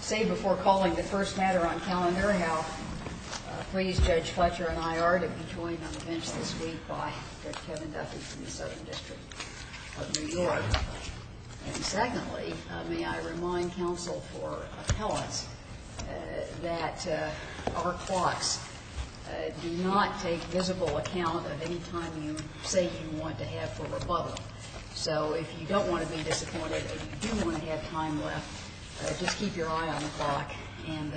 Say before calling the first matter on calendar now, please, Judge Fletcher and I are to be joined on the bench this week by Judge Kevin Duffy from the Southern District of New York. And secondly, may I remind counsel for appellants that our clocks do not take visible account of any time you say you want to have for rebuttal. So if you don't want to be disappointed and you do want to have time left, just keep your eye on the clock and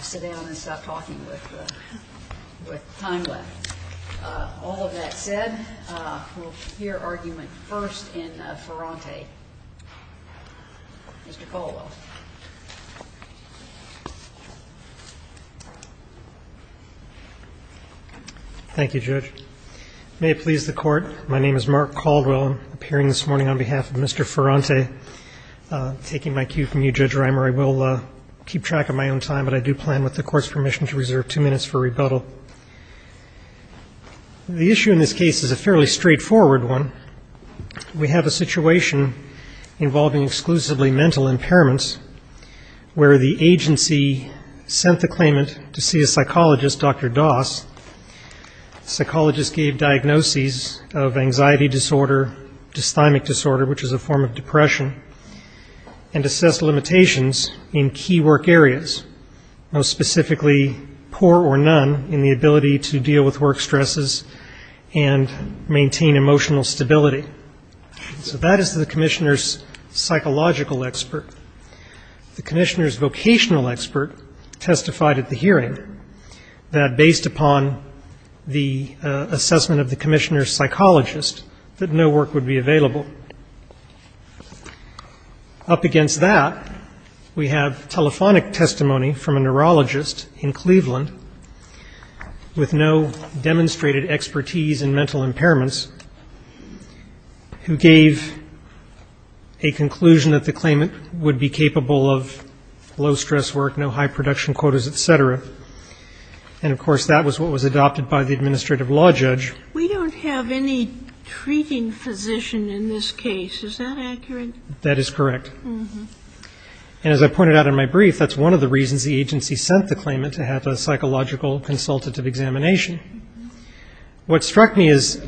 sit down and stop talking with time left. All of that said, we'll hear argument first in Ferrante. Mr. Colwell. Thank you, Judge. May it please the Court. My name is Mark Caldwell. I'm appearing this morning on behalf of Mr. Ferrante. Taking my cue from you, Judge Reimer, I will keep track of my own time, but I do plan with the Court's permission to reserve two minutes for rebuttal. The issue in this case is a fairly straightforward one. We have a situation involving exclusively mental impairments where the agency sent the claimant to see a psychologist, Dr. Doss. The psychologist gave diagnoses of anxiety disorder, dysthymic disorder, which is a form of depression, and assessed limitations in key work areas, most specifically poor or none in the ability to deal with work stresses and maintain emotional stability. So that is the commissioner's psychological expert. The commissioner's vocational expert testified at the hearing that based upon the assessment of the commissioner's psychologist that no work would be available. Up against that, we have telephonic testimony from a neurologist in Cleveland with no demonstrated expertise in mental impairments who gave a conclusion that the claimant would be capable of low stress work, no high production quotas, et cetera. And, of course, that was what was adopted by the administrative law judge. We don't have any treating physician in this case. Is that accurate? That is correct. And as I pointed out in my brief, that's one of the reasons the agency sent the claimant to have a psychological consultative examination. What struck me as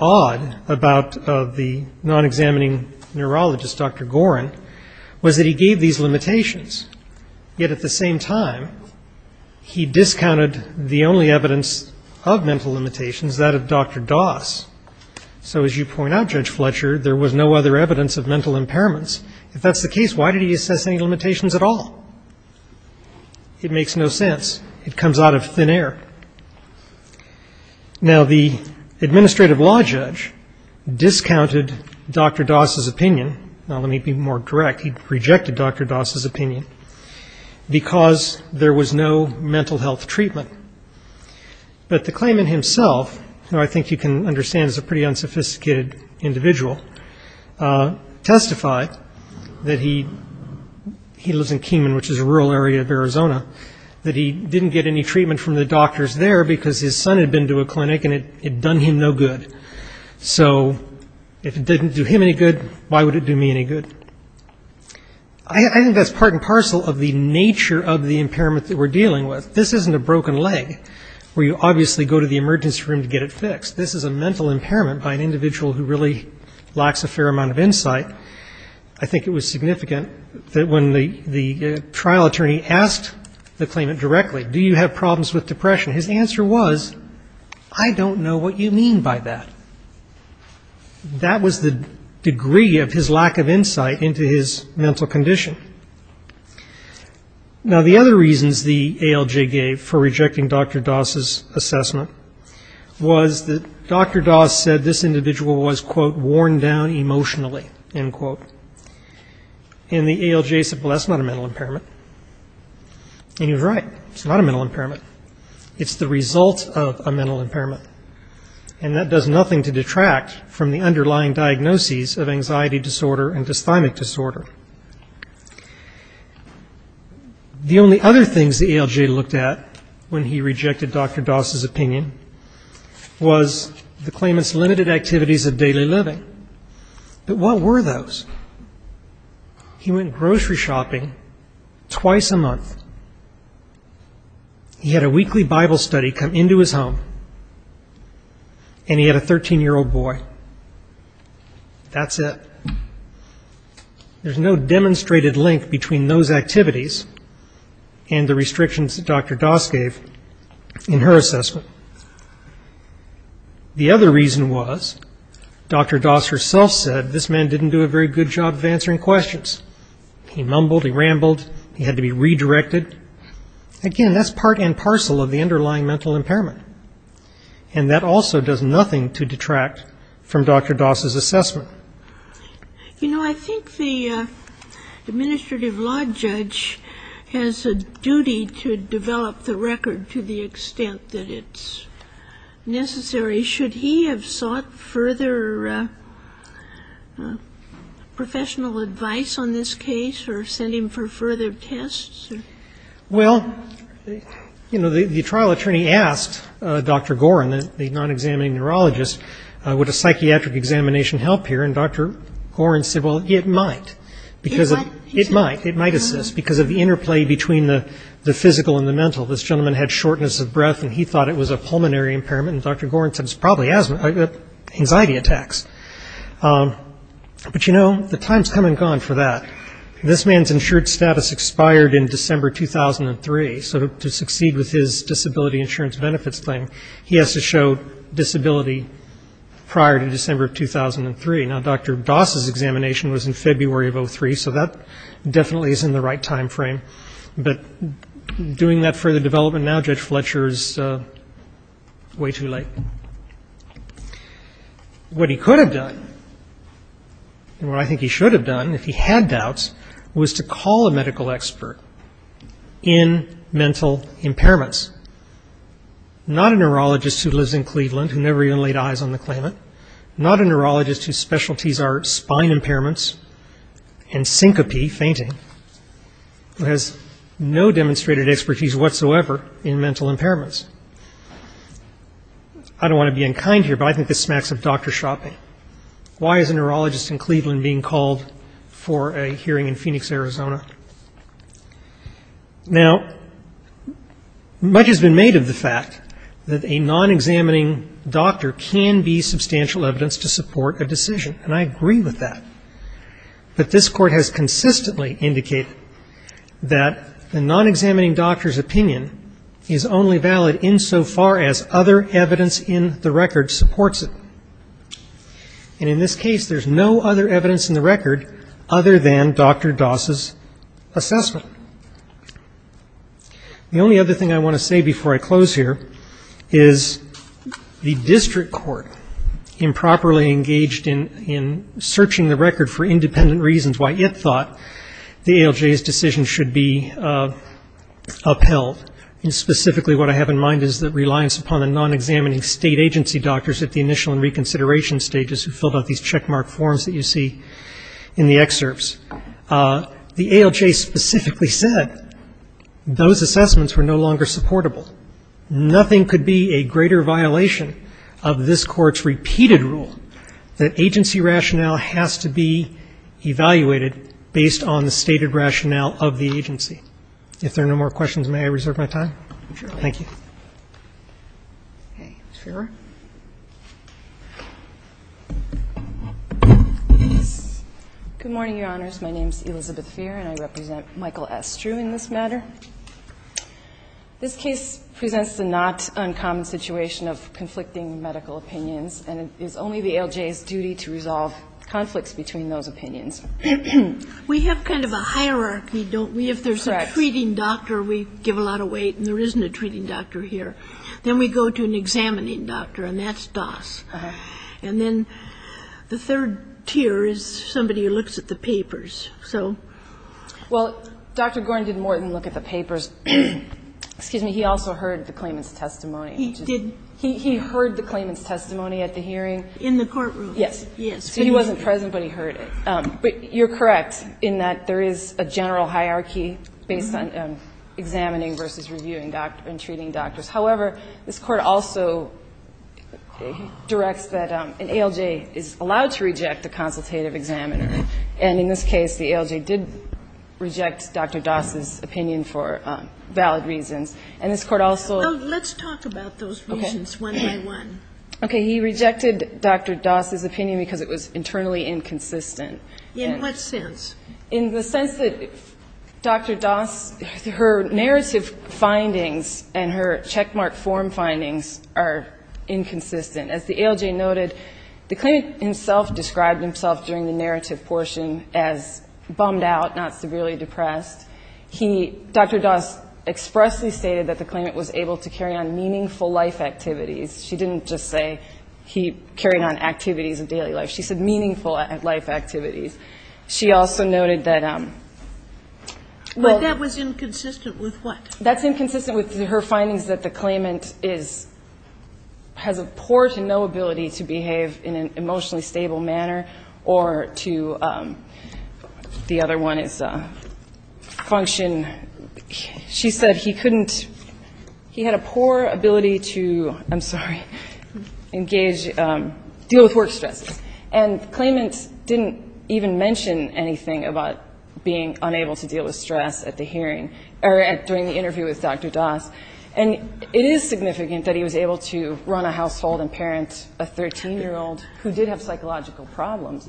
odd about the non-examining neurologist, Dr. Gorin, was that he gave these limitations, yet at the same time he discounted the only evidence of mental limitations, that of Dr. Doss. So as you point out, Judge Fletcher, there was no other evidence of mental impairments. If that's the case, why did he assess any limitations at all? It makes no sense. It comes out of thin air. Now, the administrative law judge discounted Dr. Doss's opinion. Now, let me be more direct. He rejected Dr. Doss's opinion because there was no mental health treatment. But the claimant himself, who I think you can understand is a pretty unsophisticated individual, testified that he lives in Arizona, that he didn't get any treatment from the doctors there because his son had been to a clinic and it had done him no good. So if it didn't do him any good, why would it do me any good? I think that's part and parcel of the nature of the impairment that we're dealing with. This isn't a broken leg where you obviously go to the emergency room to get it fixed. This is a mental impairment by an individual who really lacks a fair amount of insight. I think it was significant that when the trial attorney asked the claimant directly, do you have problems with depression, his answer was, I don't know what you mean by that. That was the degree of his lack of insight into his mental condition. Now, the other reasons the ALJ gave for rejecting Dr. Doss's assessment was that Dr. Doss said this individual was, quote, and the ALJ said, well, that's not a mental impairment, and he was right, it's not a mental impairment. It's the result of a mental impairment, and that does nothing to detract from the underlying diagnoses of anxiety disorder and dysthymic disorder. The only other things the ALJ looked at when he rejected Dr. Doss's opinion was the claimant's limited activities of daily living. But what were those? He went grocery shopping twice a month. He had a weekly Bible study come into his home, and he had a 13-year-old boy. That's it. There's no demonstrated link between those activities and the restrictions that Dr. Doss gave in her assessment. The other reason was Dr. Doss herself said this man didn't do a very good job of answering questions. He mumbled, he rambled, he had to be redirected. Again, that's part and parcel of the underlying mental impairment, and that also does nothing to detract from Dr. Doss's assessment. You know, I think the administrative law judge has a duty to develop the record to the extent that it's necessary. Should he have sought further professional advice on this case or sent him for further tests? Well, you know, the trial attorney asked Dr. Gorin, the non-examining neurologist, would a psychiatric examination help here, and Dr. Gorin said, well, it might. It might assist, because of the interplay between the physical and the mental. This gentleman had shortness of breath, and he thought it was a pulmonary impairment, and Dr. Gorin said it was probably anxiety attacks. But, you know, the time's come and gone for that. This man's insured status expired in December 2003, so to succeed with his disability insurance benefits claim, he has to show disability prior to December of 2003. Now, Dr. Doss's examination was in February of 2003, so that definitely is in the right time frame, but doing that further development now, Judge Fletcher, is way too late. What he could have done, and what I think he should have done, if he had doubts, was to call a medical expert in mental impairments. Not a neurologist who lives in Cleveland, who never even laid eyes on the claimant. Not a neurologist whose specialties are spine impairments and syncope, fainting, who has no demonstrated expertise whatsoever in mental impairments. I don't want to be unkind here, but I think this smacks of doctor shopping. Why is a neurologist in Cleveland being called for a hearing in Phoenix, Arizona? Now, much has been made of the fact that a non-examining doctor can be substantial evidence to support a decision, and I agree with that. But this Court has consistently indicated that the non-examining doctor's opinion is only valid insofar as other evidence in the record supports it. And in this case, there's no other evidence in the record other than Dr. Doss' assessment. The only other thing I want to say before I close here is the district court improperly engaged in searching the record for independent reasons why it thought the ALJ's decision should be upheld, and specifically what I have in mind is the reliance upon the non-examining state agency doctors at the initial and reconsideration stages who filled out these checkmark forms that you see in the excerpts. The ALJ specifically said those assessments were no longer supportable. Nothing could be a greater violation of this Court's repeated rule that agency rationale has to be evaluated based on the stated rationale of the agency. If there are no more questions, may I reserve my time? Thank you. Okay. Ms. Fehrer. Good morning, Your Honors. My name is Elizabeth Fehrer, and I represent Michael S. Drew in this matter. This case presents the not uncommon situation of conflicting medical opinions, and it is only the ALJ's duty to resolve conflicts between those opinions. We have kind of a hierarchy, don't we, if there's a treating doctor, we give a lot of weight and there isn't a treating doctor here. Then we go to an examining doctor, and that's Doss. And then the third tier is somebody who looks at the papers. Well, Dr. Gorin did more than look at the papers. Excuse me. He also heard the claimant's testimony. He did. He heard the claimant's testimony at the hearing. In the courtroom. Yes. Yes. So he wasn't present, but he heard it. But you're correct in that there is a general hierarchy based on examining versus reviewing and treating doctors. However, this Court also directs that an ALJ is allowed to reject a consultative examiner. And in this case, the ALJ did reject Dr. Doss's opinion for valid reasons. And this Court also. Well, let's talk about those reasons one by one. Okay. He rejected Dr. Doss's opinion because it was internally inconsistent. In what sense? In the sense that Dr. Doss, her narrative findings and her checkmark form findings are inconsistent. As the ALJ noted, the claimant himself described himself during the narrative portion as bummed out, not severely depressed. He, Dr. Doss, expressly stated that the claimant was able to carry on meaningful life activities. She didn't just say he carried on activities of daily life. She said meaningful life activities. She also noted that, well. But that was inconsistent with what? That's inconsistent with her findings that the claimant is, has a poor to no ability to behave in an emotionally stable manner or to, the other one is function. She said he couldn't, he had a poor ability to, I'm sorry, engage, deal with work stress. And the claimant didn't even mention anything about being unable to deal with stress at the hearing or during the interview with Dr. Doss. And it is significant that he was able to run a household and parent a 13-year-old who did have psychological problems.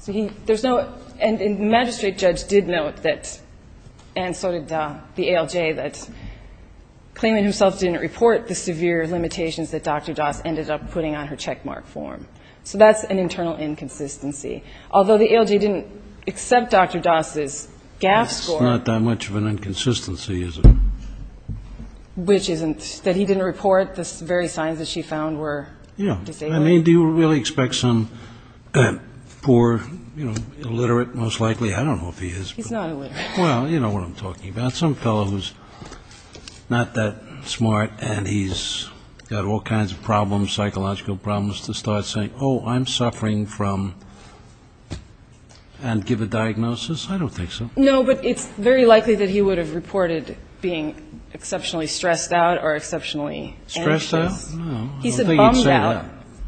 So he, there's no, and the magistrate judge did note that, and so did the ALJ, that claimant himself didn't report the severe limitations that Dr. Doss ended up putting on her checkmark form. So that's an internal inconsistency. Although the ALJ didn't accept Dr. Doss's GAF score. It's not that much of an inconsistency, is it? Which isn't, that he didn't report the very signs that she found were disabled. Yeah. I mean, do you really expect some poor, you know, illiterate, most likely, I don't know if he is. He's not illiterate. Well, you know what I'm talking about. Some fellow who's not that smart and he's got all kinds of problems, psychological problems, to start saying, oh, I'm suffering from, and give a diagnosis? I don't think so. No, but it's very likely that he would have reported being exceptionally stressed out or exceptionally anxious. Stressed out? I don't think he'd say that. He said bummed out.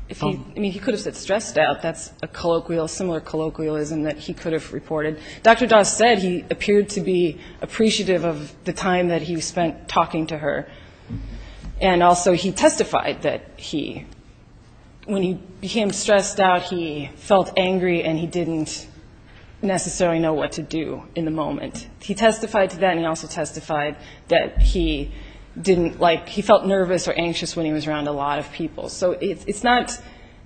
I mean, he could have said stressed out. That's a colloquial, similar colloquialism that he could have reported. Dr. Doss said he appeared to be appreciative of the time that he spent talking to her. And also he testified that he, when he became stressed out, he felt angry and he didn't necessarily know what to do in the moment. He testified to that, and he also testified that he didn't like, he felt nervous or anxious when he was around a lot of people. So it's not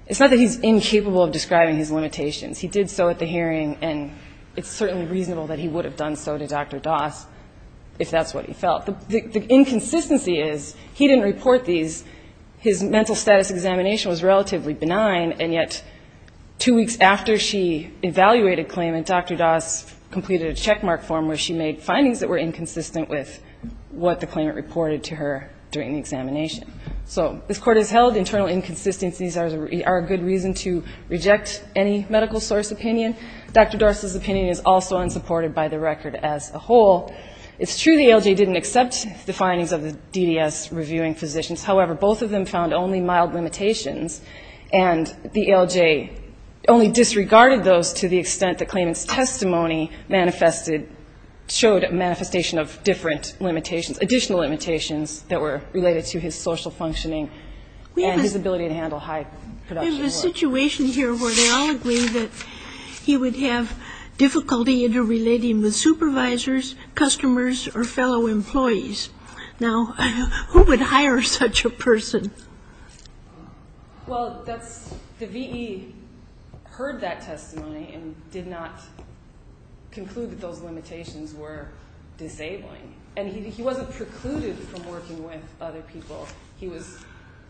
that he's incapable of describing his limitations. He did so at the hearing, and it's certainly reasonable that he would have done so to Dr. Doss if that's what he felt. The inconsistency is he didn't report these. His mental status examination was relatively benign, and yet two weeks after she evaluated claimant, Dr. Doss completed a checkmark form where she made findings that were inconsistent with what the claimant reported to her during the examination. So this Court has held internal inconsistencies are a good reason to reject any medical source opinion. Dr. Doss's opinion is also unsupported by the record as a whole. It's true the ALJ didn't accept the findings of the DDS reviewing physicians. However, both of them found only mild limitations, and the ALJ only disregarded those to the extent the claimant's testimony manifested, showed a manifestation of different limitations, additional limitations that were related to his social functioning and his ability to handle high production work. We have a situation here where they all agree that he would have difficulty interrelating with supervisors, customers, or fellow employees. Now, who would hire such a person? Well, that's the V.E. heard that testimony and did not conclude that those limitations were disabling. And he wasn't precluded from working with other people. He was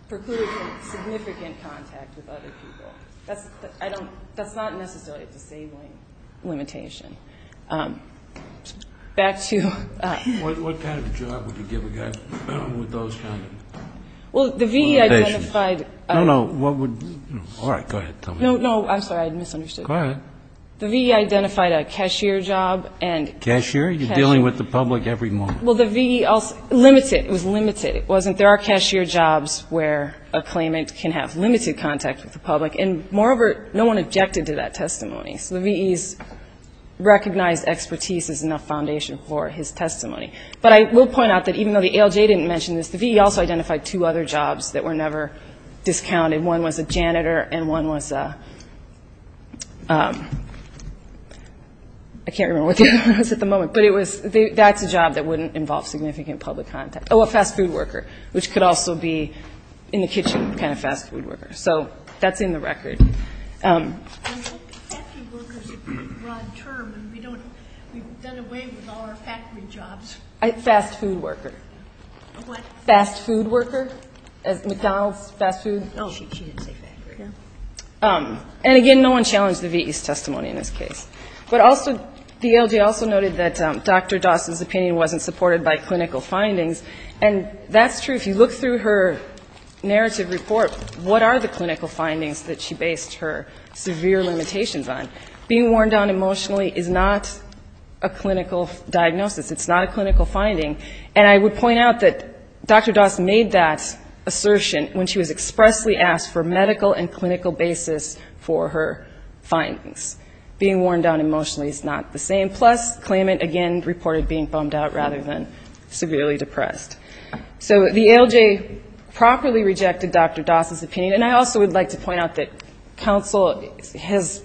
precluded from significant contact with other people. That's not necessarily a disabling limitation. Back to ---- What kind of job would you give a guy with those kind of limitations? Well, the V.E. identified a ---- No, no. All right. Go ahead. No, no. I'm sorry. I misunderstood. Go ahead. The V.E. identified a cashier job and ---- Cashier? You're dealing with the public every moment. Well, the V.E. also ---- limited. It was limited. It wasn't there are cashier jobs where a claimant can have limited contact with the public. And moreover, no one objected to that testimony. So the V.E.'s recognized expertise is enough foundation for his testimony. But I will point out that even though the ALJ didn't mention this, the V.E. also identified two other jobs that were never discounted. One was a janitor and one was a ---- I can't remember what the other one was at the moment. But it was ---- that's a job that wouldn't involve significant public contact. Oh, a fast food worker, which could also be in the kitchen kind of fast food worker. So that's in the record. Fast food worker, McDonald's fast food? Oh, she didn't say factory. And again, no one challenged the V.E.'s testimony in this case. But also the ALJ also noted that Dr. Dawson's opinion wasn't supported by clinical findings. And that's true. If you look through her narrative report, what are the clinical findings that she based her severe limitations on? Being worn down emotionally is not a clinical diagnosis. It's not a clinical finding. And I would point out that Dr. Dawson made that assertion when she was expressly asked for medical and clinical basis for her findings. Being worn down emotionally is not the same. And plus, claimant, again, reported being bummed out rather than severely depressed. So the ALJ properly rejected Dr. Dawson's opinion. And I also would like to point out that counsel has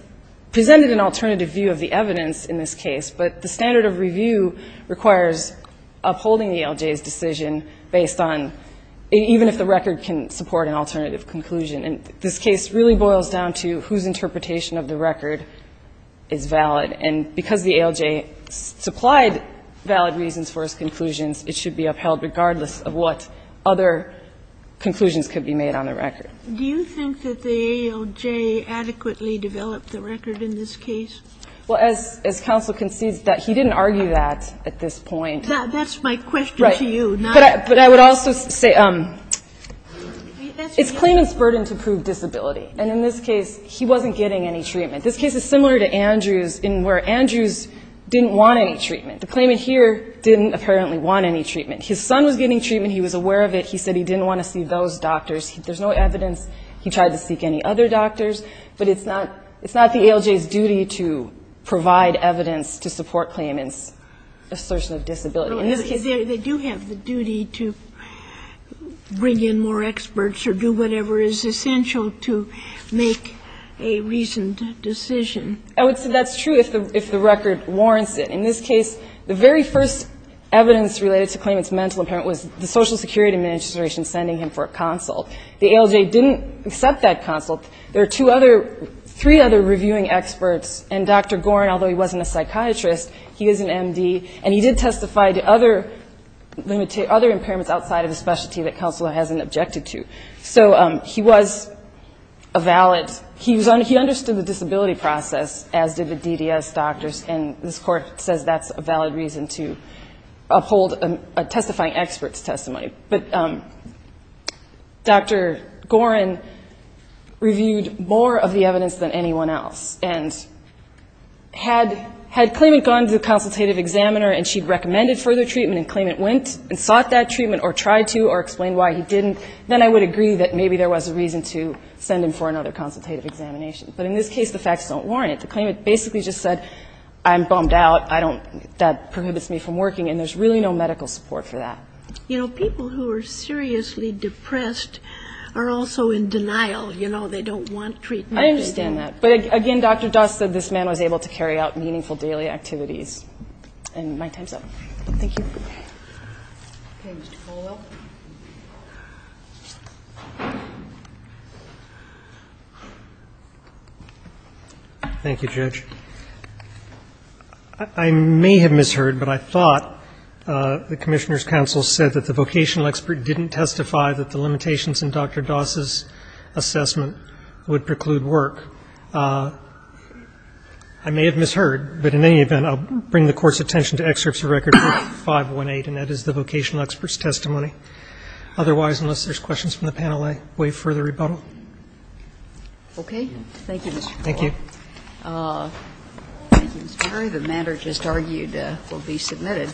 presented an alternative view of the evidence in this case. But the standard of review requires upholding the ALJ's decision based on even if the record can support an alternative conclusion. And this case really boils down to whose interpretation of the record is valid. And because the ALJ supplied valid reasons for its conclusions, it should be upheld regardless of what other conclusions could be made on the record. Do you think that the ALJ adequately developed the record in this case? Well, as counsel concedes that he didn't argue that at this point. That's my question to you. Right. But I would also say it's claimant's burden to prove disability. And in this case, he wasn't getting any treatment. This case is similar to Andrews in where Andrews didn't want any treatment. The claimant here didn't apparently want any treatment. His son was getting treatment. He was aware of it. He said he didn't want to see those doctors. There's no evidence he tried to seek any other doctors. But it's not the ALJ's duty to provide evidence to support claimant's assertion of disability. They do have the duty to bring in more experts or do whatever is essential to make a reasoned decision. I would say that's true if the record warrants it. In this case, the very first evidence related to claimant's mental impairment was the Social Security Administration sending him for a consult. The ALJ didn't accept that consult. There are two other, three other reviewing experts. And Dr. Gorin, although he wasn't a psychiatrist, he is an M.D., and he did testify to other impairments outside of his specialty that counsel hasn't objected to. So he was a valid, he understood the disability process, as did the DDS doctors, and this Court says that's a valid reason to uphold a testifying expert's testimony. But Dr. Gorin reviewed more of the evidence than anyone else. And had claimant gone to the consultative examiner and she recommended further treatment and claimant went and sought that treatment or tried to or explained why he didn't, then I would agree that maybe there was a reason to send him for another consultative examination. But in this case, the facts don't warrant it. The claimant basically just said, I'm bummed out, I don't, that prohibits me from working, and there's really no medical support for that. You know, people who are seriously depressed are also in denial, you know. They don't want treatment. I understand that. But again, Dr. Doss said this man was able to carry out meaningful daily activities. And my time's up. Thank you. Okay, Mr. Colwell. Thank you, Judge. I may have misheard, but I thought the Commissioner's counsel said that the vocational expert didn't testify that the limitations in Dr. Doss's assessment would preclude work. I may have misheard, but in any event, I'll bring the Court's attention to excerpts of Record 518, and that is the vocational expert's testimony. Otherwise, unless there's questions from the panel, I waive further rebuttal. Okay. Thank you, Mr. Colwell. Thank you. Thank you, Mr. Murray. The matter just argued will be submitted.